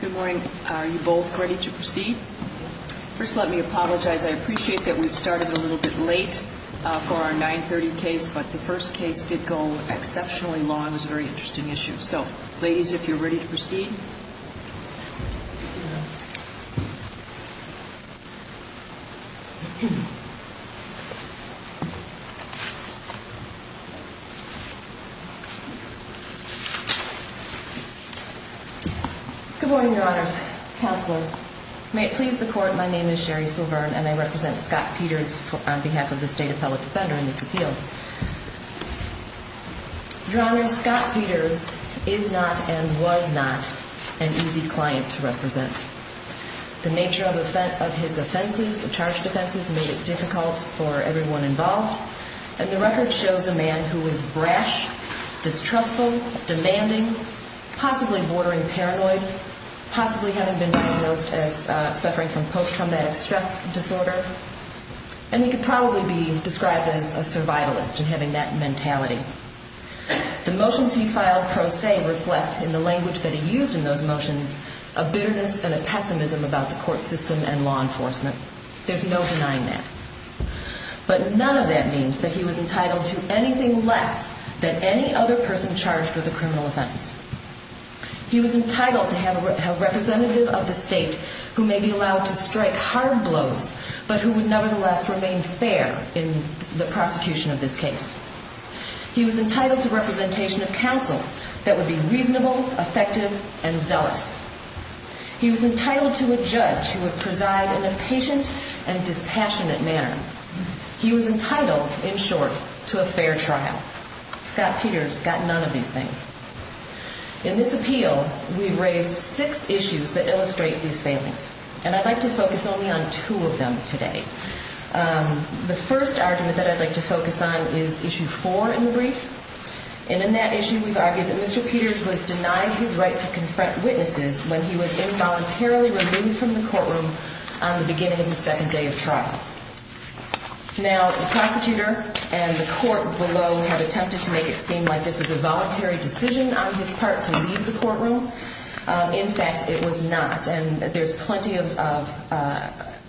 Good morning. Are you both ready to proceed? First let me apologize. I appreciate that we started a little bit late for our 930 case, but the first case did go exceptionally long. It was a very interesting issue. So, ladies, if you're ready to proceed. Good morning, Your Honors. Counselor, may it please the Court, my name is Sherry Silvern and I represent Scott Peters on behalf of the State Appellate Defender in this appeal. Your Honors, Scott Peters is not and was not an easy client to represent. The nature of his offenses, the charge of offenses, made it difficult for everyone involved, and the record shows a man who was brash, distrustful, demanding, possibly bordering paranoia, possibly having been diagnosed as suffering from post-traumatic stress disorder, and he could probably be described as a survivor. The motions he filed pro se reflect, in the language that he used in those motions, a bitterness and a pessimism about the court system and law enforcement. There's no denying that. But none of that means that he was entitled to anything less than any other person charged with a criminal offense. He was entitled to have a representative of the state who may be allowed to strike hard blows, but who would nevertheless remain fair in the prosecution of this case. He was entitled to representation of counsel that would be reasonable, effective, and zealous. He was entitled to a judge who would preside in a patient and dispassionate manner. He was entitled, in short, to a fair trial. Scott Peters got none of these things. In this appeal, we've raised six issues that illustrate these failings, and I'd like to focus only on two of them today. The first argument that I'd like to focus on is issue four in the brief, and in that issue we've argued that Mr. Peters was denied his right to confront witnesses when he was involuntarily removed from the courtroom on the beginning of the second day of trial. Now, the prosecutor and the court below have attempted to make it seem like this was a voluntary decision on his part to leave the courtroom. In fact, it was not, and there's plenty of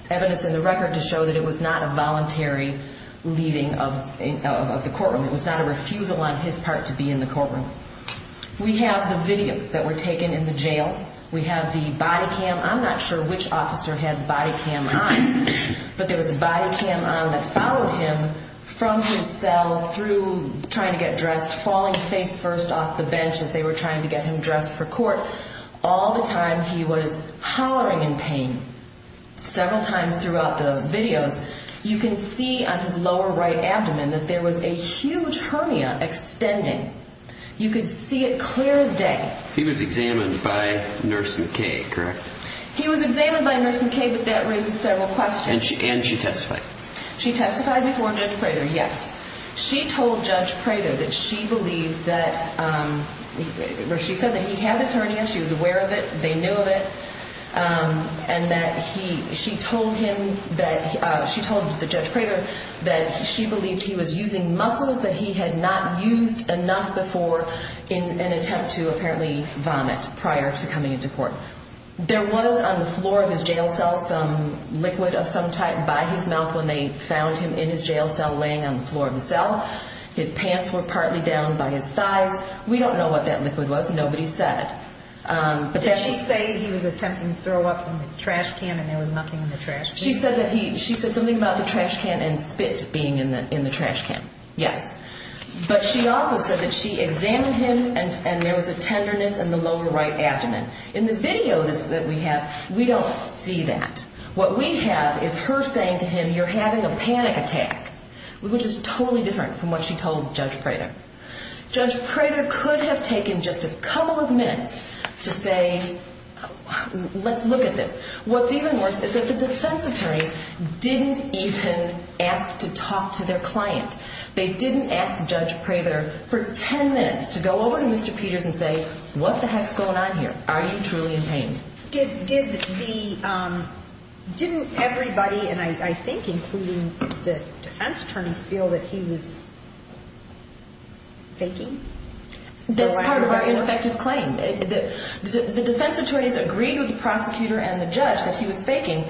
evidence in the record to show that it was not a voluntary leaving of the courtroom. It was not a refusal on his part to be in the courtroom. We have the videos that were taken in the jail. We have the body cam. I'm not sure which officer had the body cam on, but there was a body cam on that followed him from his cell through trying to get dressed, falling face first off the bench as they were trying to get him dressed for court. All the time he was hollering in pain. Several times throughout the videos, you can see on his lower right abdomen that there was a huge hernia extending. You could see it clear as day. He was examined by Nurse McKay, correct? He was examined by Nurse McKay, but that raises several questions. And she testified? She testified before Judge Prater, yes. She told Judge Prater that she believed that, she said that he had this hernia, she was aware of it, they knew of it, and that he, she told him that, she told the Judge Prater that she believed he was using muscles that he had not used enough before in an attempt to apparently vomit prior to coming into court. There was on the floor of his jail cell some liquid of some type by his mouth when they found him in his jail cell laying on the floor of the cell. His pants were partly down by his thighs. We don't know what that liquid was. Nobody said. Did she say he was attempting to throw up in the trash can and there was nothing in the trash can? She said that he, she said something about the trash can and spit being in the trash can, yes. But she also said that she examined him and there was a tenderness in the lower right abdomen. In the video that we have, we don't see that. What we have is her saying to him, you're having a panic attack, which is totally different from what she told Judge Prater. Judge Prater could have taken just a couple of minutes to say, let's look at this. What's even worse is that the defense attorneys didn't even ask to talk to their client. They didn't ask Judge Prater for ten minutes to go over to Mr. Peters and say, what the heck's going on here? Are you truly in pain? Did the, didn't everybody, and I think including the defense attorneys, feel that he was faking? That's part of our ineffective claim. The defense attorneys agreed with the prosecutor and the judge that he was faking.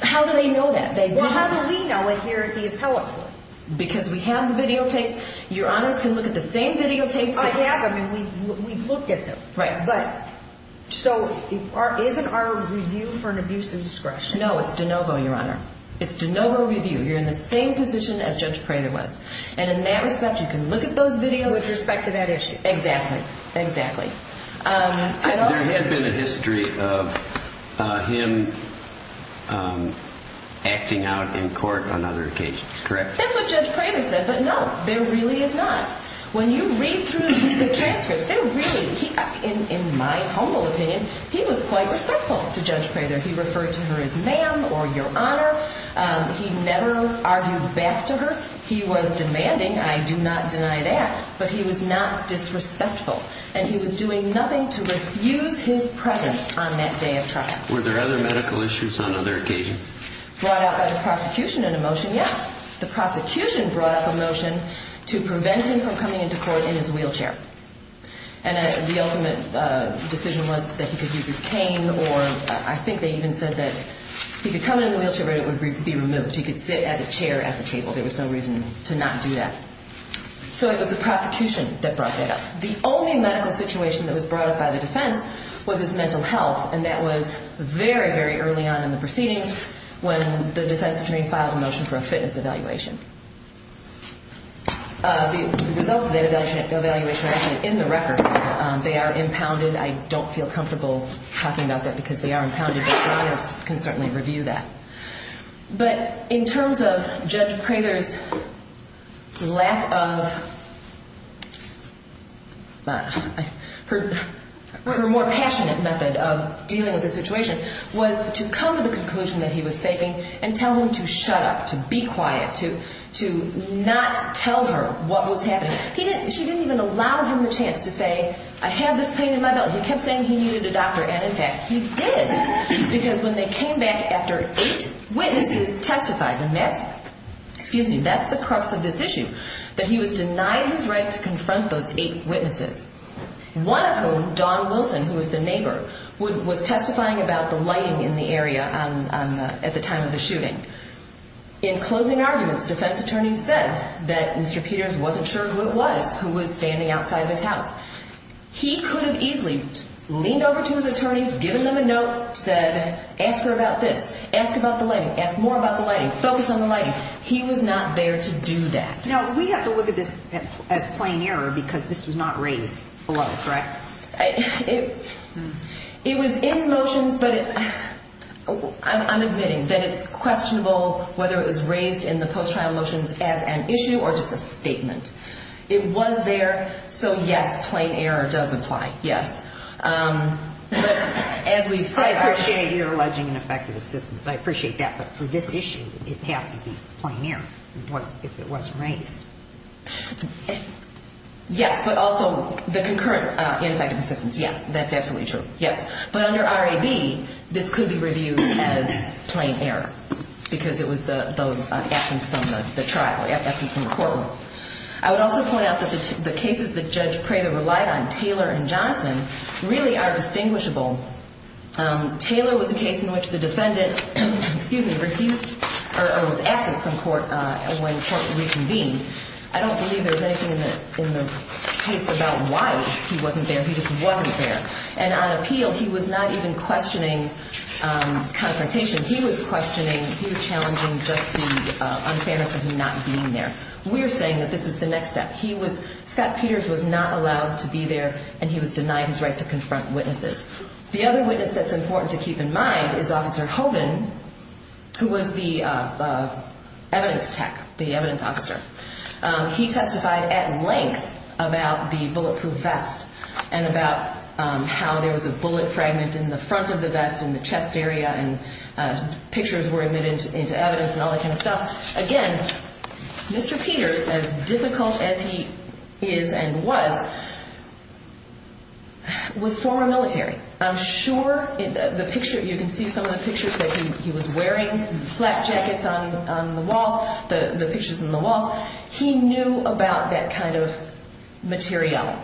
How do they know that? Well, how do we know it here at the appellate court? Because we have the videotapes. Your honors can look at the same videotapes. I have them and we've looked at them. Right. So isn't our review for an abuse of discretion? No, it's de novo, your honor. It's de novo review. You're in the same position as Judge Prater was. And in that respect, you can look at those videos. With respect to that issue. Exactly. Exactly. There had been a history of him acting out in court on other occasions, correct? That's what Judge Prater said, but no, there really is not. When you read through the transcripts, there really, in my humble opinion, he was quite respectful to Judge Prater. He referred to her as ma'am or your honor. He never argued back to her. He was demanding, I do not deny that, but he was not disrespectful. And he was doing nothing to refuse his presence on that day of trial. Were there other medical issues on other occasions? Brought out by the prosecution in a motion, yes. The prosecution brought up a motion to prevent him from coming into court in his wheelchair. And the ultimate decision was that he could use his cane or I think they even said that he could come in the wheelchair, but it would be removed. He could sit at a chair at the table. There was no reason to not do that. So it was the prosecution that brought that up. The only medical situation that was brought up by the defense was his mental health, and that was very, very early on in the proceedings when the defense attorney filed a motion for a fitness evaluation. The results of that evaluation are actually in the record. They are impounded. I don't feel comfortable talking about that because they are impounded, but your honors can certainly review that. But in terms of Judge Prather's lack of, her more passionate method of dealing with the situation was to come to the conclusion that he was faking and tell him to shut up, to be quiet, to not tell her what was happening. She didn't even allow him the chance to say, I have this pain in my belt. He kept saying he needed a doctor, and in fact he did, because when they came back after eight witnesses testified, and that's the crux of this issue, that he was denied his right to confront those eight witnesses. One of whom, Dawn Wilson, who was the neighbor, was testifying about the lighting in the area at the time of the shooting. In closing arguments, defense attorneys said that Mr. Peters wasn't sure who it was who was standing outside of his house. He could have easily leaned over to his attorneys, given them a note, said, ask her about this, ask about the lighting, ask more about the lighting, focus on the lighting. He was not there to do that. Now, we have to look at this as plain error, because this was not raised below, correct? It was in the motions, but I'm admitting that it's questionable whether it was raised in the post-trial motions as an issue or just a statement. It was there, so yes, plain error does apply, yes. I appreciate your alleging ineffective assistance. I appreciate that, but for this issue, it has to be plain error if it wasn't raised. Yes, but also the concurrent ineffective assistance, yes, that's absolutely true, yes. But under RAB, this could be reviewed as plain error, because it was the absence from the trial, absence from the courtroom. I would also point out that the cases that Judge Prater relied on, Taylor and Johnson, really are distinguishable. Taylor was a case in which the defendant refused or was absent from court when court reconvened. I don't believe there's anything in the case about why he wasn't there. He just wasn't there. And on appeal, he was not even questioning confrontation. He was questioning, he was challenging just the unfairness of him not being there. We're saying that this is the next step. He was, Scott Peters was not allowed to be there, and he was denied his right to confront witnesses. The other witness that's important to keep in mind is Officer Hogan, who was the evidence tech, the evidence officer. He testified at length about the bulletproof vest and about how there was a bullet fragment in the front of the vest, in the chest area, and pictures were admitted into evidence and all that kind of stuff. Again, Mr. Peters, as difficult as he is and was, was former military. I'm sure the picture, you can see some of the pictures that he was wearing, flap jackets on the walls, the pictures on the walls, he knew about that kind of material.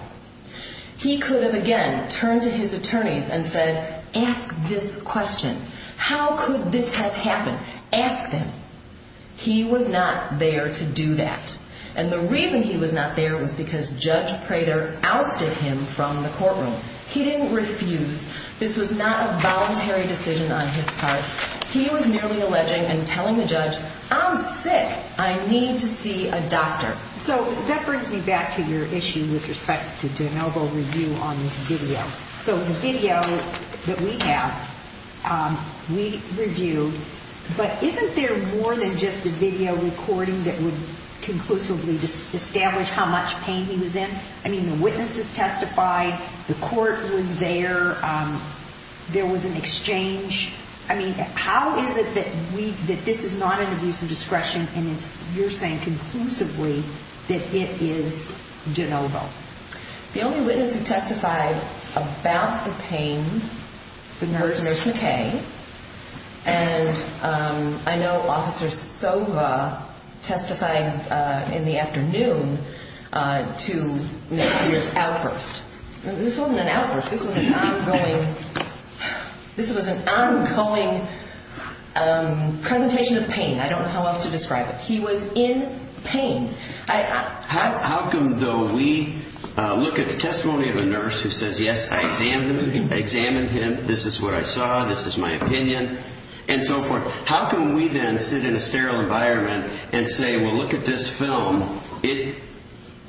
He could have, again, turned to his attorneys and said, ask this question. How could this have happened? Ask them. He was not there to do that. And the reason he was not there was because Judge Prater ousted him from the courtroom. He didn't refuse. This was not a voluntary decision on his part. He was merely alleging and telling the judge, I'm sick. I need to see a doctor. So that brings me back to your issue with respect to an elbow review on this video. So the video that we have, we reviewed, but isn't there more than just a video recording that would conclusively establish how much pain he was in? I mean, the witnesses testified, the court was there, there was an exchange. I mean, how is it that we, that this is not an abuse of discretion and it's, you're saying conclusively that it is de novo? The only witness who testified about the pain was Nurse McKay. And I know Officer Sova testified in the afternoon to Nurse Peters outburst. This wasn't an outburst. This was an ongoing, this was an ongoing presentation of pain. I don't know how else to describe it. He was in pain. How come though we look at the testimony of a nurse who says, yes, I examined him. This is what I saw. This is my opinion and so forth. How can we then sit in a sterile environment and say, well, look at this film. It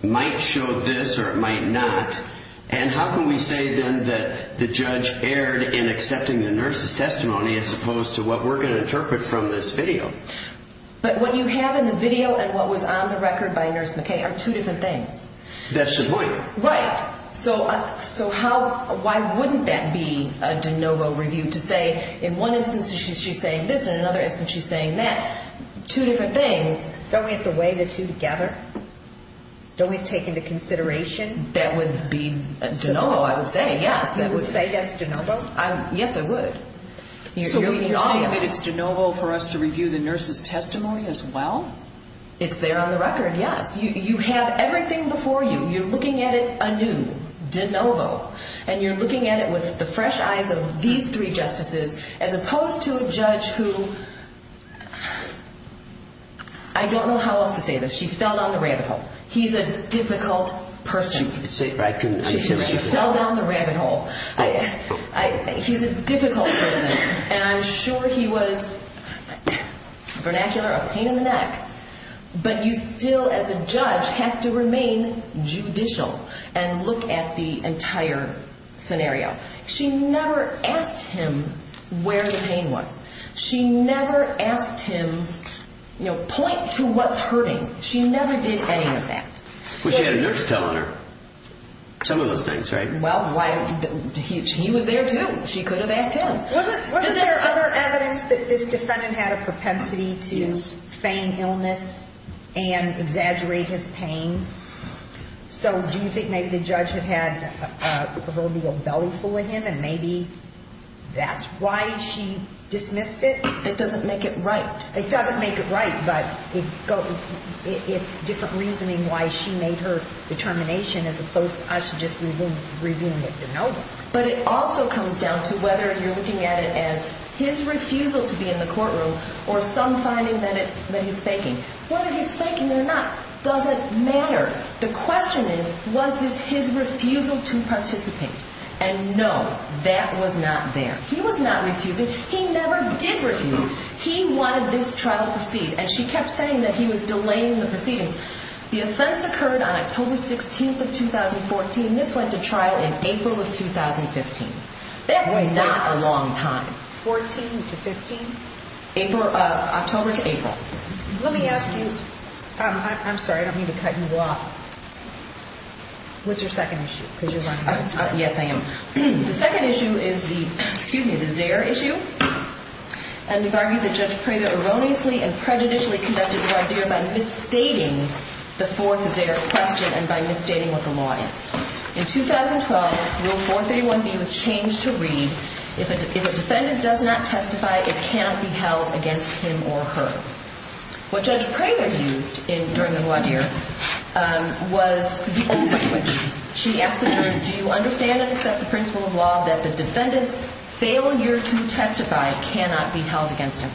might show this or it might not. And how can we say then that the judge erred in accepting the nurse's testimony as opposed to what we're going to interpret from this video? But what you have in the video and what was on the record by Nurse McKay are two different things. That's the point. Right. So, so how, why wouldn't that be a de novo review to say in one instance she's saying this and in another instance she's saying that. Two different things. Don't we have to weigh the two together? Don't we have to take into consideration? That would be de novo I would say, yes. You would say that's de novo? Yes, I would. So you're saying that it's de novo for us to review the nurse's testimony as well? It's there on the record, yes. You have everything before you. You're looking at it anew. De novo. And you're looking at it with the fresh eyes of these three justices as opposed to a judge who, I don't know how else to say this, she fell down the rabbit hole. He's a difficult person. She fell down the rabbit hole. He's a difficult person. And I'm sure he was, vernacular, a pain in the neck. But you still as a judge have to remain judicial and look at the entire scenario. She never asked him where the pain was. She never asked him, you know, point to what's hurting. She never did any of that. But she had a nurse tell on her. Some of those things, right? Well, he was there too. She could have asked him. Wasn't there other evidence that this defendant had a propensity to feign illness and exaggerate his pain? So do you think maybe the judge had had a proverbial belly full of him and maybe that's why she dismissed it? It doesn't make it right. It doesn't make it right, but it's different reasoning why she made her determination as opposed to us just reviewing it de novo. But it also comes down to whether you're looking at it as his refusal to be in the courtroom or some finding that he's faking. Whether he's faking it or not doesn't matter. The question is, was this his refusal to participate? And no, that was not there. He was not refusing. He never did refuse. He wanted this trial to proceed. And she kept saying that he was delaying the proceedings. The offense occurred on October 16th of 2014. This went to trial in April of 2015. That's not a long time. 14 to 15? October to April. Let me ask you, I'm sorry, I don't mean to cut you off. What's your second issue? Yes, I am. The second issue is the, excuse me, the Zare issue. And we've argued that Judge Prather erroneously and prejudicially conducted this idea by misstating the fourth Zare question and by misstating what the law is. In 2012, Rule 431B was changed to read, if a defendant does not testify, it cannot be held against him or her. What Judge Prather used during the voir dire was the old question. She asked the jurors, do you understand and accept the principle of law that the defendant's failure to testify cannot be held against him?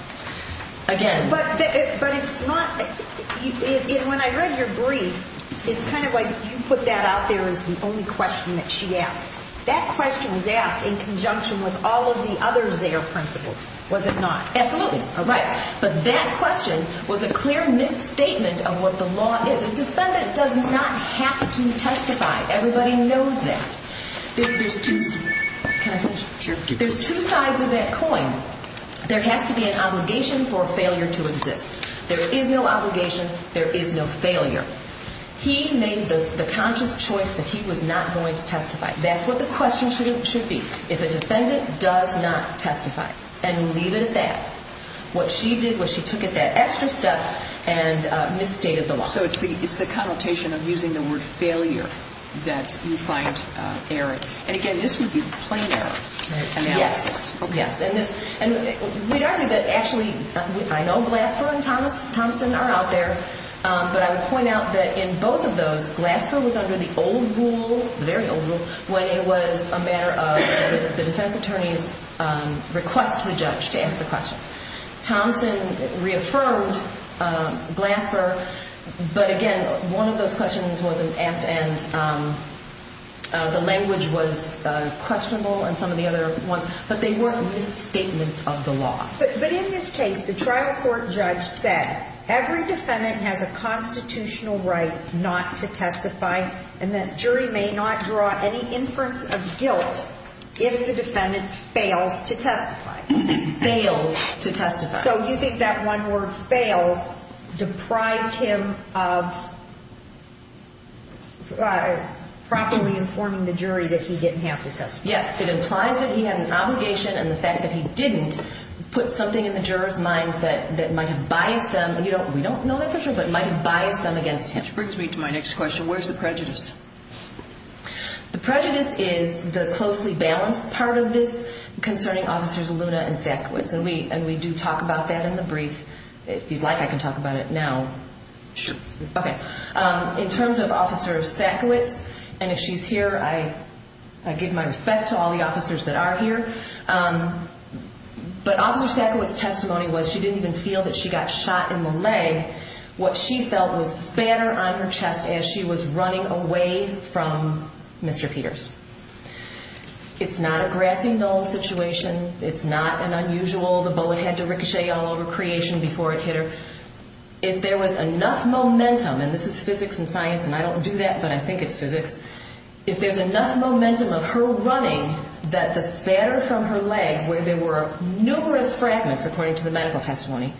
Again. But it's not, when I read your brief, it's kind of like you put that out there as the only question that she asked. That question was asked in conjunction with all of the other Zare principles, was it not? Absolutely. But that question was a clear misstatement of what the law is. A defendant does not have to testify. Everybody knows that. There's two sides of that coin. There has to be an obligation for failure to exist. There is no obligation. There is no failure. He made the conscious choice that he was not going to testify. That's what the question should be. If a defendant does not testify and leave it at that, what she did was she took that extra step and misstated the law. So it's the connotation of using the word failure that you find errant. And again, this would be plain error. Yes. And we'd argue that actually, I know Glasper and Thompson are out there, but I would point out that in both of those, Glasper was under the old rule, the very old rule, when it was a matter of the defense attorney's request to the judge to ask the questions. Thompson reaffirmed Glasper, but again, one of those questions wasn't asked and the language was questionable and some of the other ones, but they weren't misstatements of the law. But in this case, the trial court judge said every defendant has a constitutional right not to testify and that jury may not draw any inference of guilt if the defendant fails to testify. So using that one word, fails, deprived him of properly informing the jury that he didn't have to testify. Yes. It implies that he had an obligation and the fact that he didn't put something in the jurors' minds that might have biased them. We don't know that for sure, but it might have biased them against him. Which brings me to my next question. Where's the prejudice? The prejudice is the closely balanced part of this concerning Officers Luna and Sackowitz. And we do talk about that in the brief. If you'd like, I can talk about it now. Sure. Okay. In terms of Officer Sackowitz, and if she's here, I give my respect to all the officers that are here. But Officer Sackowitz's testimony was she didn't even feel that she got shot in the leg. What she felt was a spanner on her chest as she was running away from Mr. Peters. It's not a grassy knoll situation. It's not an unusual, the bullet had to ricochet all over Creation before it hit her. If there was enough momentum, and this is physics and science, and I don't do that, but I think it's physics, if there's enough momentum of her running that the spanner from her leg where there were numerous fragments, according to the medical testimony,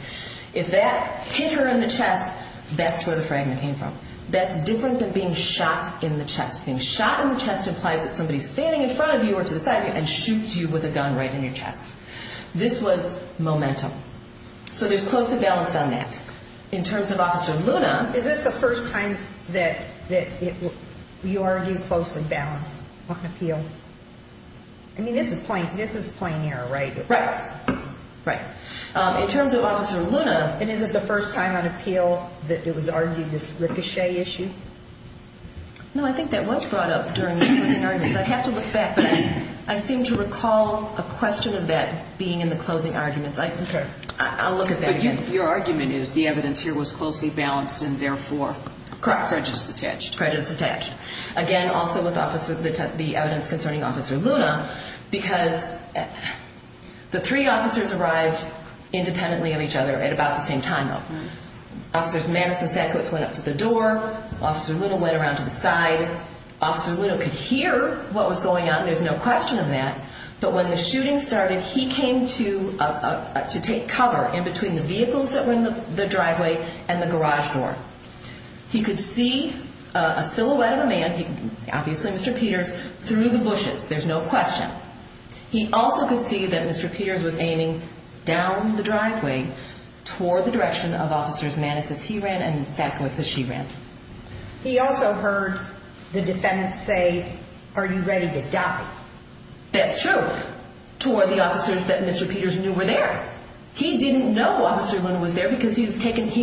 if that hit her in the chest, that's where the fragment came from. That's different than being shot in the chest. Being shot in the chest implies that somebody's standing in front of you or to the side of you and shoots you with a gun right in your chest. This was momentum. So there's close and balance on that. In terms of Officer Luna. Is this the first time that you argue close and balance on appeal? I mean, this is plain error, right? Right. Right. In terms of Officer Luna, is it the first time on appeal that it was argued this ricochet issue? No, I think that was brought up during the closing arguments. I'd have to look back, but I seem to recall a question of that being in the closing arguments. I'll look at that again. But your argument is the evidence here was closely balanced and therefore prejudice attached. Again, also with the evidence concerning Officer Luna, because the three officers arrived independently of each other at about the same time. Officers Madison Sackowitz went up to the door. Officer Luna went around to the side. Officer Luna could hear what was going on. There's no question of that. But when the shooting started, he came to take cover in between the vehicles that were in the driveway and the garage door. He could see a silhouette of a man, obviously Mr. Peters, through the bushes. There's no question. He also could see that Mr. Peters was aiming down the driveway toward the direction of Officers Madison as he ran and Sackowitz as she ran. He also heard the defendant say, are you ready to die? That's true. Toward the officers that Mr. Peters knew were there. He didn't know Officer Luna was there because he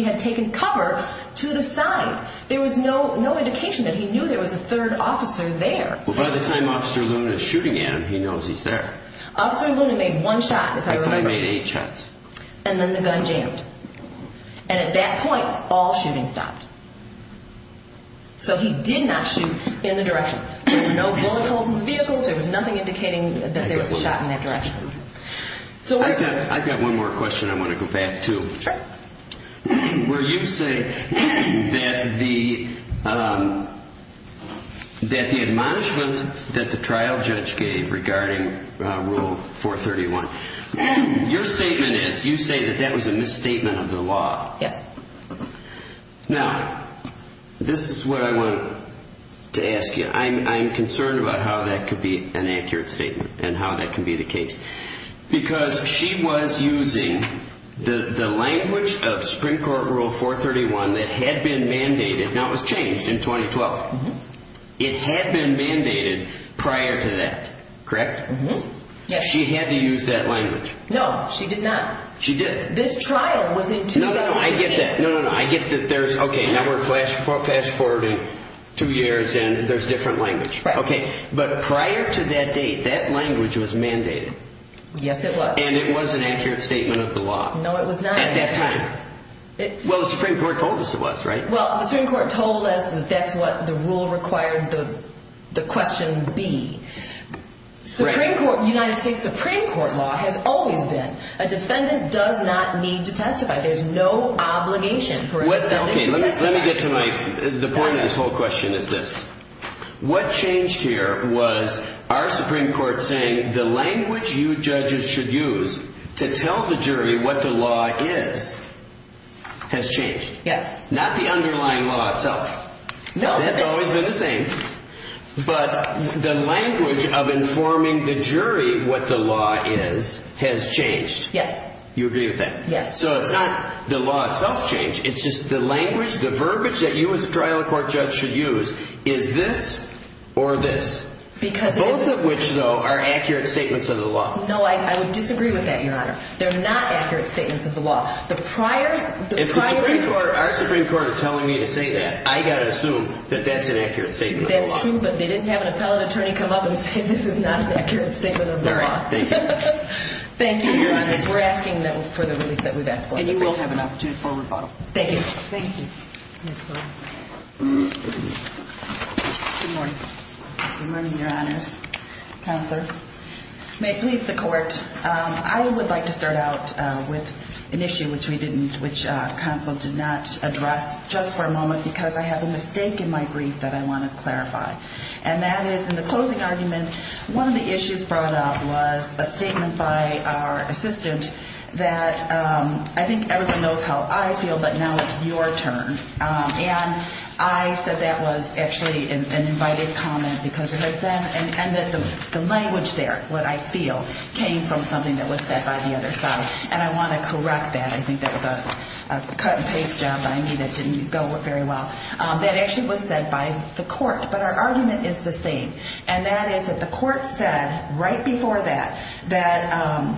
had taken cover to the side. There was no indication that he knew there was a third officer there. By the time Officer Luna is shooting at him, he knows he's there. Officer Luna made one shot, if I remember. I think he made eight shots. And then the gun jammed. And at that point, all shooting stopped. So he did not shoot in the direction. There were no bullet holes in the vehicles. There was nothing indicating that there was a shot in that direction. I've got one more question I want to go back to. Sure. Where you say that the admonishment that the trial judge gave regarding Rule 431, your statement is, you say that that was a misstatement of the law. Yes. Now, this is what I want to ask you. I'm concerned about how that could be an accurate statement and how that could be the case. Because she was using the language of Supreme Court Rule 431 that had been mandated. Now, it was changed in 2012. It had been mandated prior to that, correct? Yes. She had to use that language. No, she did not. She did. This trial was in 2013. No, no, no. I get that. Okay, now we're fast-forwarding two years and there's different language. Okay. But prior to that date, that language was mandated. Yes, it was. And it was an accurate statement of the law. No, it was not. At that time. Well, the Supreme Court told us it was, right? Well, the Supreme Court told us that that's what the rule required the question be. The United States Supreme Court law has always been, a defendant does not need to testify. There's no obligation for a defendant to testify. Let me get to the point of this whole question is this. What changed here was our Supreme Court saying, the language you judges should use to tell the jury what the law is has changed. Yes. Not the underlying law itself. No. That's always been the same. But the language of informing the jury what the law is has changed. Yes. You agree with that? Yes. So it's not the law itself changed. It's just the language, the verbiage that you as a trial court judge should use is this or this. Because it is. Both of which, though, are accurate statements of the law. No, I would disagree with that, Your Honor. They're not accurate statements of the law. If our Supreme Court is telling me to say that, I've got to assume that that's an accurate statement of the law. That's true, but they didn't have an appellate attorney come up and say this is not an accurate statement of the law. All right. Thank you. Thank you, Your Honors. We're asking for the relief that we've asked for. And you will have an opportunity for a rebuttal. Thank you. Thank you. Good morning, Your Honors. Counselor. May it please the Court. I would like to start out with an issue which we didn't, which counsel did not address just for a moment because I have a mistake in my brief that I want to clarify. And that is, in the closing argument, one of the issues brought up was a statement by our assistant that, I think everyone knows how I feel, but now it's your turn. And I said that was actually an invited comment because it had been, and that the language there, what I feel, came from something that was said by the other side. And I want to correct that. I think that was a cut-and-paste job by me that didn't go very well. That actually was said by the Court. But our argument is the same. And that is that the Court said right before that that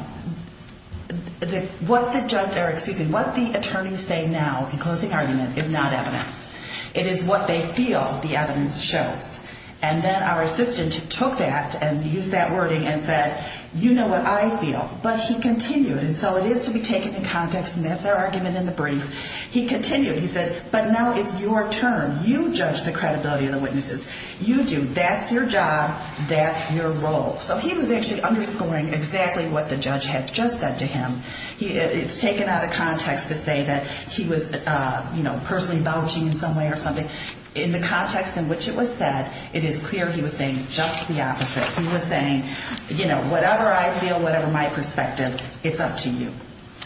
what the attorneys say now in closing argument is not evidence. It is what they feel the evidence shows. And then our assistant took that and used that wording and said, you know what I feel. But he continued. And so it is to be taken in context, and that's our argument in the brief. He continued. He said, but now it's your turn. You judge the credibility of the witnesses. You do. That's your job. That's your role. So he was actually underscoring exactly what the judge had just said to him. It's taken out of context to say that he was, you know, personally vouching in some way or something. In the context in which it was said, it is clear he was saying just the opposite. He was saying, you know, whatever I feel, whatever my perspective, it's up to you.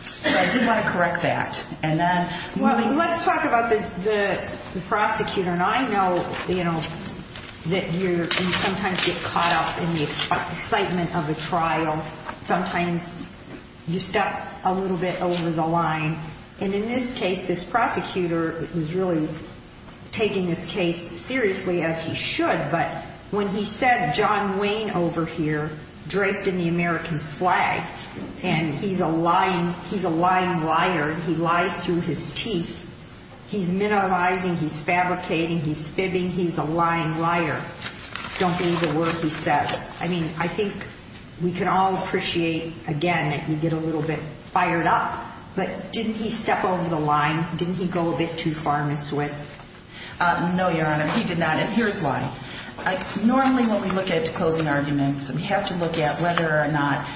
So I did want to correct that. And then moving on. Well, let's talk about the prosecutor. And I know, you know, that you sometimes get caught up in the excitement of a trial. Sometimes you step a little bit over the line. And in this case, this prosecutor is really taking this case seriously as he should. But when he said John Wayne over here draped in the American flag and he's a lying liar and he lies through his teeth, he's minimalizing, he's fabricating, he's fibbing, he's a lying liar. Don't believe a word he says. I mean, I think we can all appreciate, again, that you get a little bit fired up. But didn't he step over the line? Didn't he go a bit too far, Ms. Swiss? No, Your Honor. He did not. And here's why. Normally when we look at closing arguments, we have to look at whether or not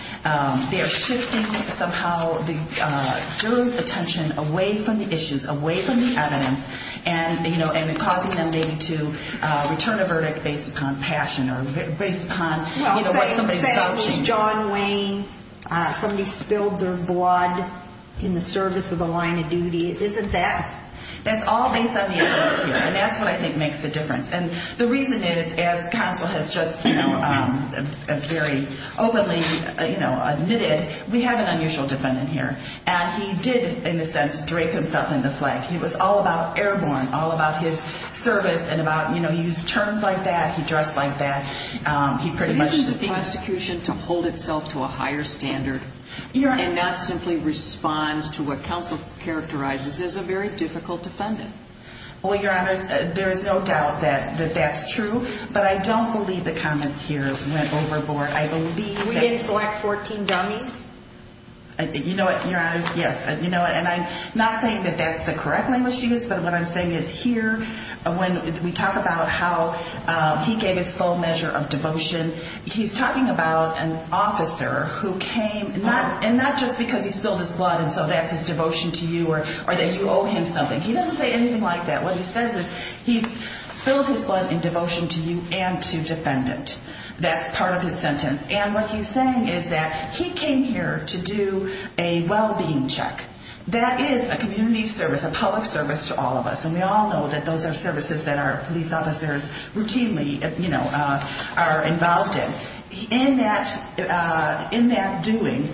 they are shifting somehow the juror's attention away from the issues, away from the evidence, and, you know, and causing them maybe to return a verdict based upon passion or based upon, you know, what somebody's vouching. Well, say it was John Wayne, somebody spilled their blood in the service of the line of duty. Isn't that? That's all based on the evidence here. And that's what I think makes the difference. And the reason is, as counsel has just, you know, very openly, you know, admitted, we have an unusual defendant here. And he did, in a sense, drape himself in the flag. He was all about airborne, all about his service and about, you know, he used terms like that, he dressed like that. He pretty much deceived us. But isn't the prosecution to hold itself to a higher standard and not simply respond to what counsel characterizes as a very difficult defendant? Well, Your Honors, there is no doubt that that's true. But I don't believe the comments here went overboard. I believe that. We didn't select 14 dummies. You know what, Your Honors? Yes. You know what? And I'm not saying that that's the correct language used, but what I'm saying is here, when we talk about how he gave his full measure of devotion, he's talking about an officer who came not just because he spilled his blood and so that's his devotion to you or that you owe him something. He doesn't say anything like that. What he says is he's spilled his blood in devotion to you and to defendant. That's part of his sentence. And what he's saying is that he came here to do a well-being check. That is a community service, a public service to all of us. And we all know that those are services that our police officers routinely, you know, are involved in. In that doing,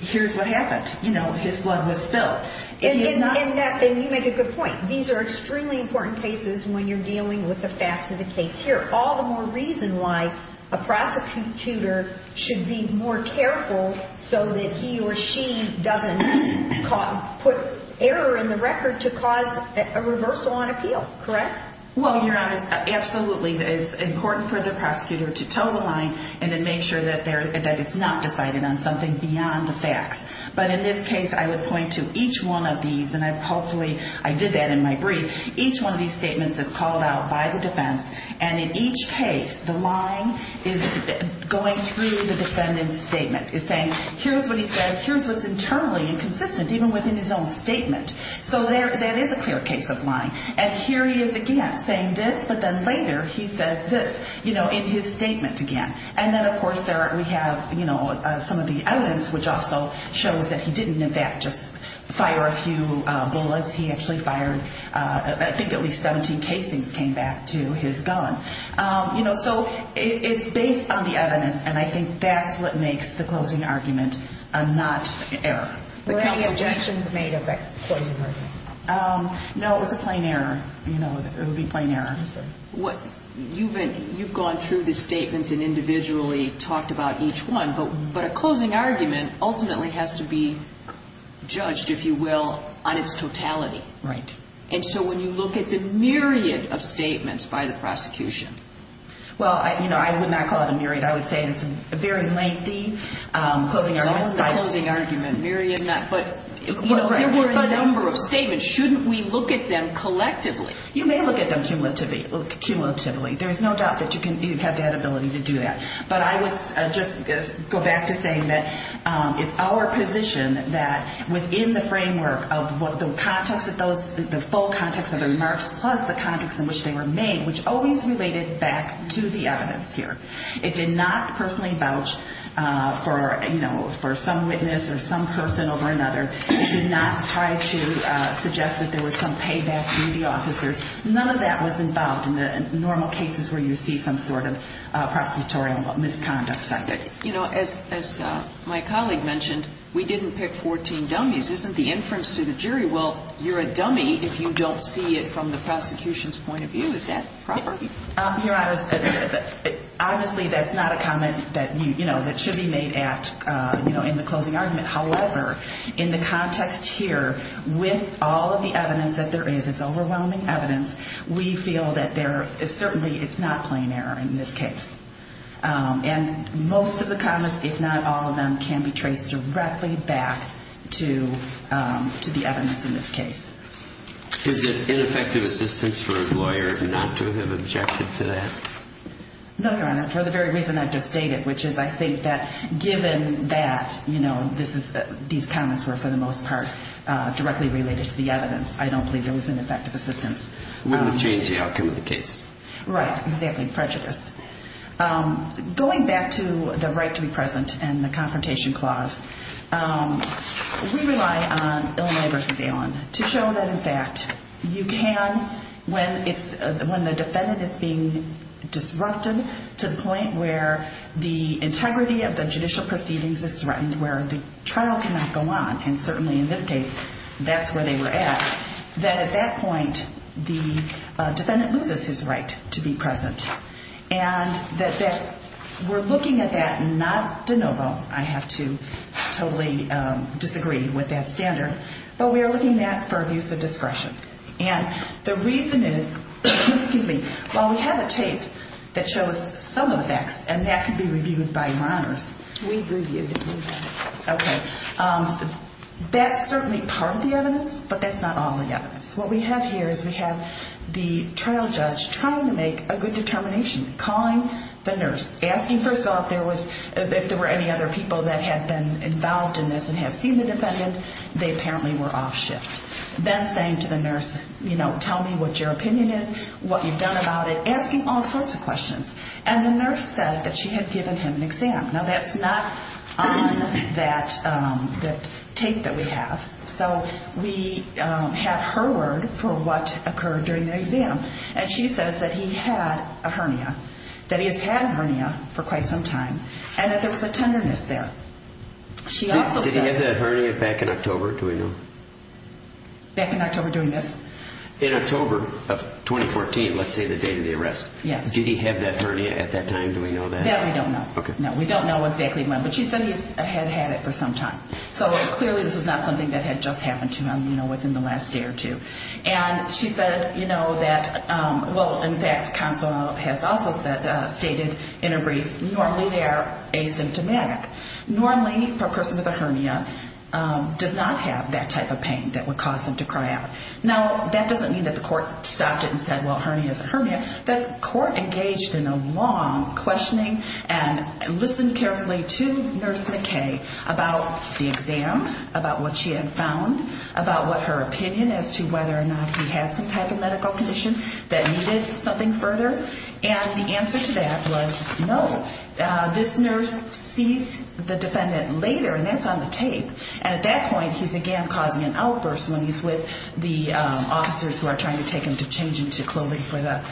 here's what happened. You know, his blood was spilled. And you make a good point. These are extremely important cases when you're dealing with the facts of the case. Here, all the more reason why a prosecutor should be more careful so that he or she doesn't put error in the record to cause a reversal on appeal. Correct? Well, Your Honors, absolutely. It's important for the prosecutor to toe the line and to make sure that it's not decided on something beyond the facts. But in this case, I would point to each one of these, and hopefully I did that in my brief. Each one of these statements is called out by the defense. And in each case, the line is going through the defendant's statement. It's saying, here's what he said, here's what's internally inconsistent, even within his own statement. So that is a clear case of lying. And here he is again saying this, but then later he says this, you know, in his statement again. And then, of course, we have some of the evidence, which also shows that he didn't, in fact, just fire a few bullets. He actually fired, I think, at least 17 casings came back to his gun. So it's based on the evidence, and I think that's what makes the closing argument a not error. Were any objections made of that closing argument? No, it was a plain error. It would be a plain error. You've gone through the statements and individually talked about each one, but a closing argument ultimately has to be judged, if you will, on its totality. Right. And so when you look at the myriad of statements by the prosecution. Well, you know, I would not call it a myriad. I would say it's a very lengthy closing argument. It's only the closing argument, but there were a number of statements. Shouldn't we look at them collectively? You may look at them cumulatively. There's no doubt that you have that ability to do that. But I would just go back to saying that it's our position that within the framework of the context of those, the full context of the remarks plus the context in which they were made, which always related back to the evidence here. It did not personally vouch for, you know, for some witness or some person over another. It did not try to suggest that there was some payback to the officers. None of that was involved in the normal cases where you see some sort of prosecutorial misconduct. You know, as my colleague mentioned, we didn't pick 14 dummies. Isn't the inference to the jury, well, you're a dummy if you don't see it from the prosecution's point of view. Is that proper? Your Honor, obviously, that's not a comment that, you know, that should be made at, you know, in the closing argument. However, in the context here, with all of the evidence that there is, it's overwhelming evidence, we feel that there is certainly it's not plain error in this case. And most of the comments, if not all of them, can be traced directly back to the evidence in this case. Is it ineffective assistance for his lawyer not to have objected to that? No, Your Honor, for the very reason I've just stated, which is I think that given that, you know, these comments were, for the most part, directly related to the evidence. I don't believe there was ineffective assistance. Wouldn't have changed the outcome of the case. Right. Exactly. Prejudice. Going back to the right to be present and the confrontation clause, we rely on Illinois v. of the judicial proceedings is threatened where the trial cannot go on. And certainly in this case, that's where they were at. That at that point, the defendant loses his right to be present. And that we're looking at that not de novo. I have to totally disagree with that standard. But we are looking at for abuse of discretion. And the reason is, excuse me, while we have a tape that shows some of the facts and that could be reviewed by your honors. We've reviewed it. Okay. That's certainly part of the evidence, but that's not all the evidence. What we have here is we have the trial judge trying to make a good determination, calling the nurse, asking, first of all, if there were any other people that had been involved in this and have seen the defendant. They apparently were off shift. Then saying to the nurse, you know, tell me what your opinion is, what you've done about it, asking all sorts of questions. And the nurse said that she had given him an exam. Now, that's not on that tape that we have. So we have her word for what occurred during the exam. And she says that he had a hernia, that he has had a hernia for quite some time, and that there was a tenderness there. Did he have that hernia back in October? Do we know? Back in October during this? In October of 2014, let's say the date of the arrest. Yes. Did he have that hernia at that time? Do we know that? That we don't know. Okay. No, we don't know exactly when, but she said he had had it for some time. So clearly this was not something that had just happened to him, you know, within the last day or two. And she said, you know, that, well, in fact, counsel has also stated in a brief, normally they are asymptomatic. Normally a person with a hernia does not have that type of pain that would cause them to cry out. Now, that doesn't mean that the court stopped it and said, well, a hernia is a hernia. The court engaged in a long questioning and listened carefully to Nurse McKay about the exam, about what she had found, about what her opinion as to whether or not he had some type of medical condition that needed something further. And the answer to that was no. This nurse sees the defendant later, and that's on the tape. And at that point he's, again, causing an outburst when he's with the officers who are trying to take him to change into clothing for the,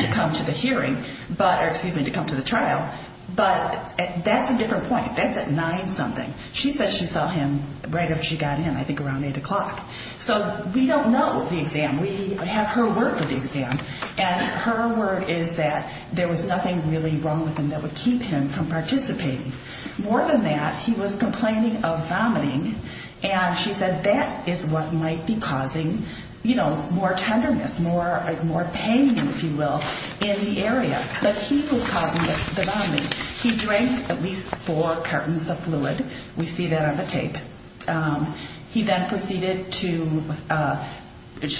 to come to the hearing. But, or excuse me, to come to the trial. But that's a different point. That's at 9-something. She says she saw him right after she got in, I think around 8 o'clock. So we don't know the exam. We have her word for the exam. And her word is that there was nothing really wrong with him that would keep him from participating. More than that, he was complaining of vomiting. And she said that is what might be causing, you know, more tenderness, more pain, if you will, in the area. But he was causing the vomiting. He drank at least four cartons of fluid. We see that on the tape. He then proceeded to,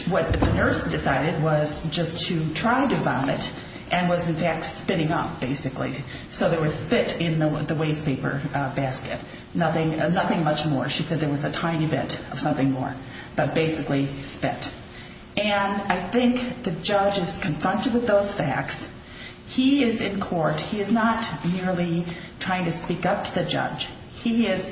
what the nurse decided was just to try to vomit and was, in fact, spitting up, basically. So there was spit in the waste paper basket. Nothing much more. She said there was a tiny bit of something more, but basically spit. And I think the judge is confronted with those facts. He is in court. He is not merely trying to speak up to the judge. He is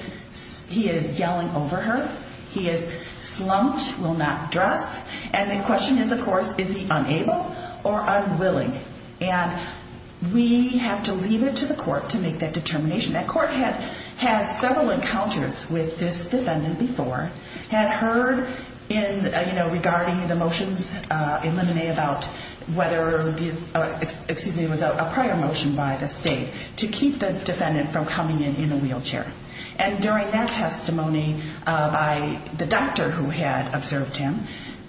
yelling over her. He is slumped, will not dress. And the question is, of course, is he unable or unwilling? And we have to leave it to the court to make that determination. That court had several encounters with this defendant before, had heard in, you know, regarding the motions in Limine about whether, excuse me, it was a prior motion by the state to keep the defendant from coming in in a wheelchair. And during that testimony by the doctor who had observed him,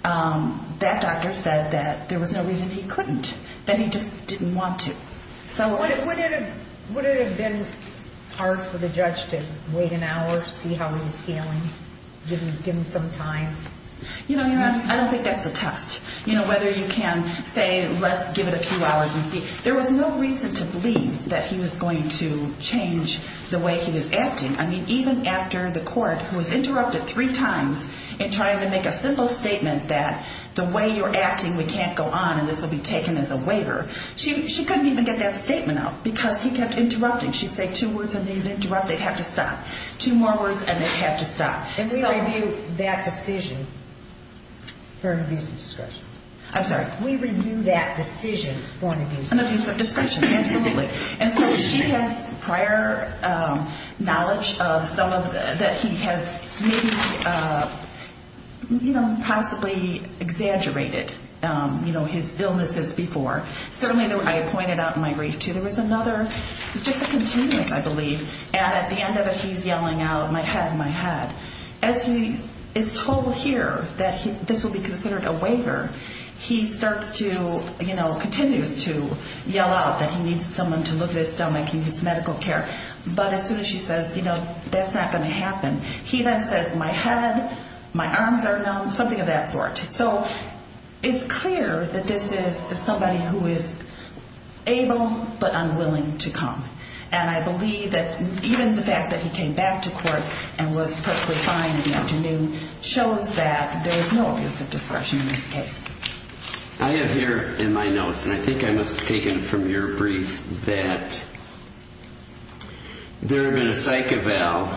that doctor said that there was no reason he couldn't, that he just didn't want to. So would it have been hard for the judge to wait an hour to see how he was feeling, give him some time? You know, Your Honor, I don't think that's a test. You know, whether you can say, let's give it a few hours and see. There was no reason to believe that he was going to change the way he was acting. I mean, even after the court, who was interrupted three times in trying to make a simple statement that the way you're acting, we can't go on and this will be taken as a waiver. She couldn't even get that statement out because he kept interrupting. She'd say two words and they'd interrupt. They'd have to stop. Two more words and they'd have to stop. And we review that decision for an abuse of discretion. I'm sorry. We review that decision for an abuse of discretion. An abuse of discretion, absolutely. And so she has prior knowledge that he has maybe, you know, possibly exaggerated, you know, his illnesses before. Certainly, I pointed out in my brief, too, there was another, just a continuous, I believe, and at the end of it, he's yelling out, my head, my head. As he is told here that this will be considered a waiver, he starts to, you know, continues to yell out that he needs someone to look at his stomach. He needs medical care. But as soon as she says, you know, that's not going to happen, he then says, my head, my arms are numb, something of that sort. So it's clear that this is somebody who is able but unwilling to come. And I believe that even the fact that he came back to court and was perfectly fine in the afternoon shows that there is no abuse of discretion in this case. I have here in my notes, and I think I must have taken from your brief, that there had been a psych eval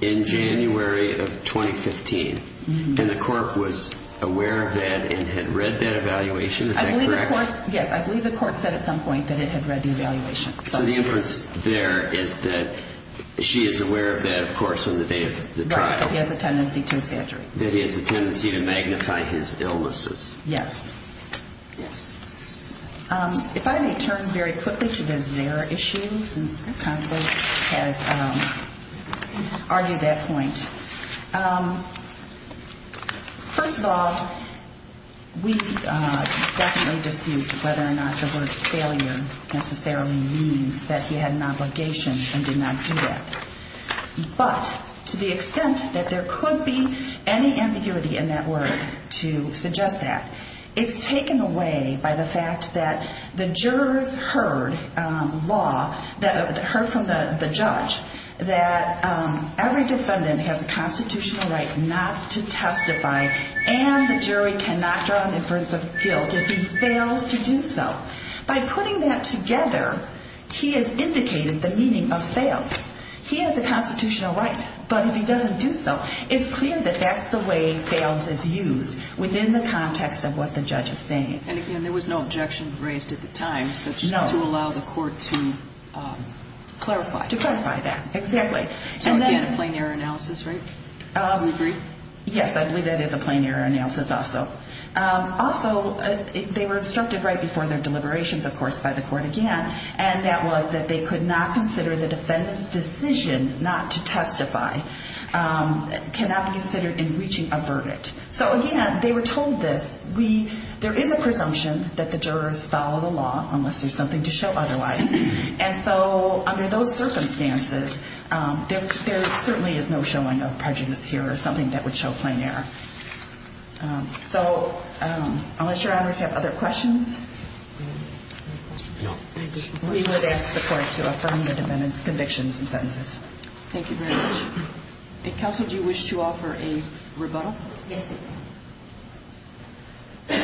in January of 2015. And the court was aware of that and had read that evaluation. Is that correct? Yes, I believe the court said at some point that it had read the evaluation. So the inference there is that she is aware of that, of course, on the day of the trial. Right, that he has a tendency to exaggerate. That he has a tendency to magnify his illnesses. Yes. Yes. If I may turn very quickly to the Zara issue, since counsel has argued that point. First of all, we definitely dispute whether or not the word failure necessarily means that he had an obligation and did not do that. But to the extent that there could be any ambiguity in that word to suggest that, it's taken away by the fact that the jurors heard from the judge that every defendant has a constitutional right not to testify. And the jury cannot draw an inference of guilt if he fails to do so. By putting that together, he has indicated the meaning of fails. He has a constitutional right. But if he doesn't do so, it's clear that that's the way fails is used within the context of what the judge is saying. And again, there was no objection raised at the time to allow the court to clarify. To clarify that, exactly. So again, a plain error analysis, right? Yes, I believe that is a plain error analysis also. Also, they were instructed right before their deliberations, of course, by the court again. And that was that they could not consider the defendant's decision not to testify, cannot be considered in reaching a verdict. So again, they were told this. There is a presumption that the jurors follow the law unless there's something to show otherwise. And so under those circumstances, there certainly is no showing of prejudice here or something that would show plain error. So I'll let your honors have other questions. We would ask the court to affirm the defendant's convictions and sentences. Thank you very much. Counsel, do you wish to offer a rebuttal? Yes, ma'am.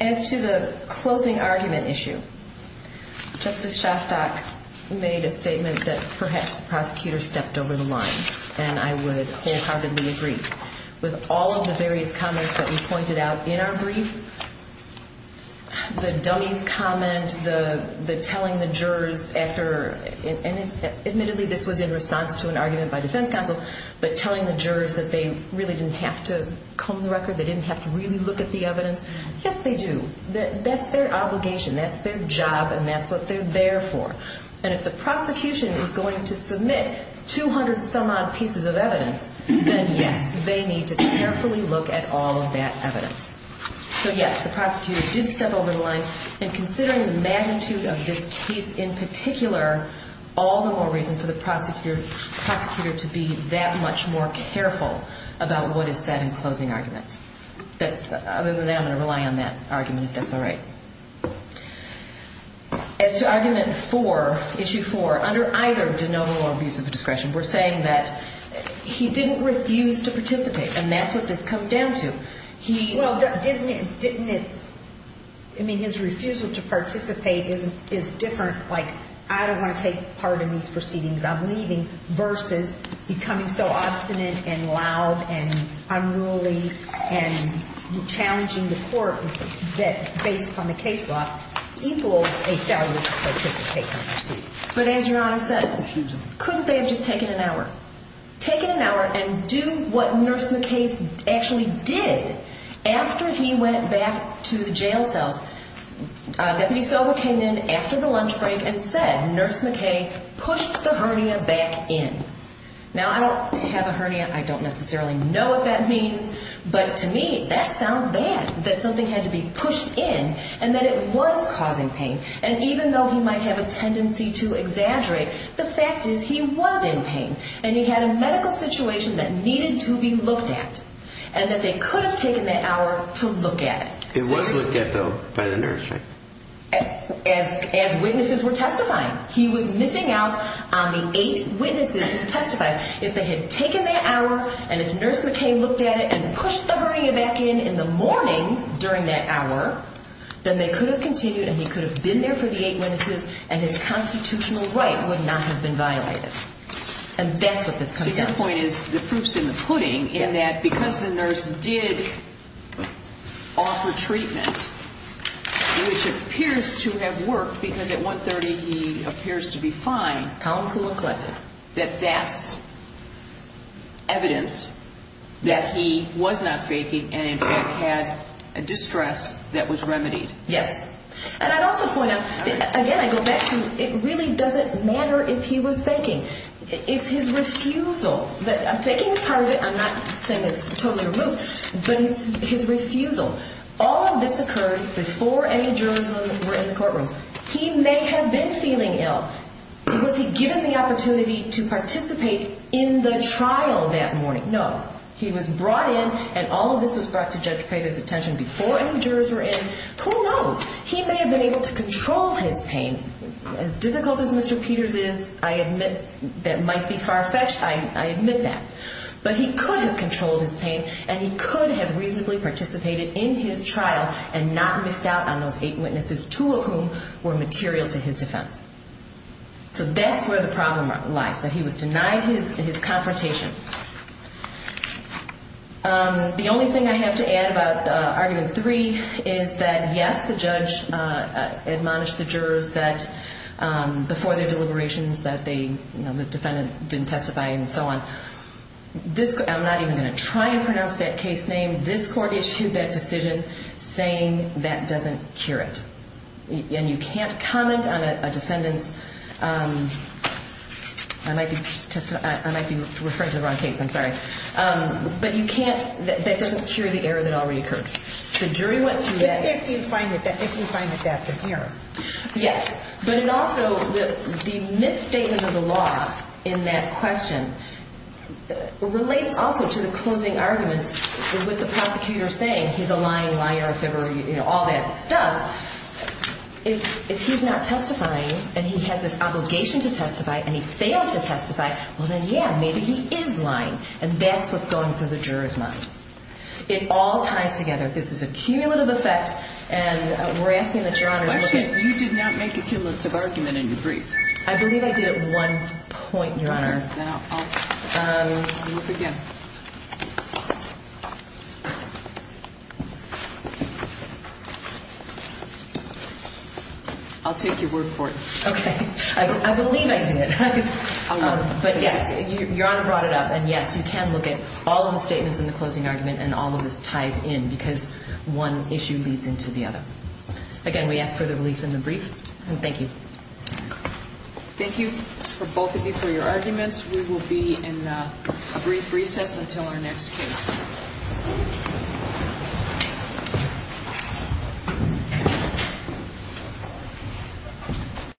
As to the closing argument issue, Justice Shostak made a statement that perhaps the prosecutor stepped over the line. And I would wholeheartedly agree with all of the various comments that you pointed out in our brief. The dummies comment, the telling the jurors after, and admittedly this was in response to an argument by defense counsel, but telling the jurors that they really didn't have to comb the record, they didn't have to really look at the evidence. Yes, they do. That's their obligation. That's their job. And that's what they're there for. And if the prosecution is going to submit 200 some odd pieces of evidence, then yes, they need to carefully look at all of that evidence. So yes, the prosecutor did step over the line. And considering the magnitude of this case in particular, all the more reason for the prosecutor to be that much more careful about what is said in closing arguments. Other than that, I'm going to rely on that argument, if that's all right. As to argument four, issue four, under either de novo or abuse of discretion, we're saying that he didn't refuse to participate, and that's what this comes down to. Well, didn't it, didn't it, I mean, his refusal to participate is different, like, I don't want to take part in these proceedings. I'm leaving, versus becoming so obstinate and loud and unruly and challenging the court that, based upon the case law, equals a failure to participate. But as Your Honor said, couldn't they have just taken an hour? Taken an hour and do what Nurse McKay actually did after he went back to the jail cells. Deputy Soba came in after the lunch break and said, Nurse McKay pushed the hernia back in. Now, I don't have a hernia. I don't necessarily know what that means. But to me, that sounds bad, that something had to be pushed in, and that it was causing pain. And even though he might have a tendency to exaggerate, the fact is he was in pain. And he had a medical situation that needed to be looked at, and that they could have taken that hour to look at it. It was looked at, though, by the nurse, right? As witnesses were testifying. He was missing out on the eight witnesses who testified. If they had taken that hour, and if Nurse McKay looked at it and pushed the hernia back in in the morning during that hour, then they could have continued and he could have been there for the eight witnesses, and his constitutional right would not have been violated. And that's what this comes down to. My point is, the proof's in the pudding, in that because the nurse did offer treatment, which appears to have worked because at 1.30 he appears to be fine, that that's evidence that he was not faking, and in fact had a distress that was remedied. Yes. And I'd also point out, again, I go back to, it really doesn't matter if he was faking. It's his refusal. Faking is part of it. I'm not saying it's totally removed, but it's his refusal. All of this occurred before any jurors were in the courtroom. He may have been feeling ill. Was he given the opportunity to participate in the trial that morning? No. He was brought in, and all of this was brought to Judge Prather's attention before any jurors were in. Who knows? He may have been able to control his pain. As difficult as Mr. Peters is, I admit that might be far-fetched. I admit that. But he could have controlled his pain, and he could have reasonably participated in his trial and not missed out on those eight witnesses, two of whom were material to his defense. So that's where the problem lies, that he was denied his confrontation. The only thing I have to add about Argument 3 is that, yes, the judge admonished the jurors that before their deliberations that the defendant didn't testify and so on. I'm not even going to try and pronounce that case name. This Court issued that decision saying that doesn't cure it. And you can't comment on a defendant's, I might be referring to the law, but you can't, that doesn't cure the error that already occurred. If you find that that's an error. Yes. But it also, the misstatement of the law in that question relates also to the closing arguments with the prosecutor saying he's a lying liar, all that stuff. If he's not testifying, and he has this obligation to testify, and he fails to testify, well then, yeah, maybe he is lying. And that's what's going through the jurors' minds. It all ties together. This is a cumulative effect. And we're asking that Your Honors look at Actually, you did not make a cumulative argument in your brief. I believe I did at one point, Your Honor. Okay. Then I'll look again. I'll take your word for it. Okay. I believe I did. But yes, Your Honor brought it up. And yes, you can look at all of the statements in the closing argument, and all of this ties in because one issue leads into the other. Again, we ask for the relief in the brief. And thank you. Thank you, both of you, for your arguments. We will be in a brief recess until our next case.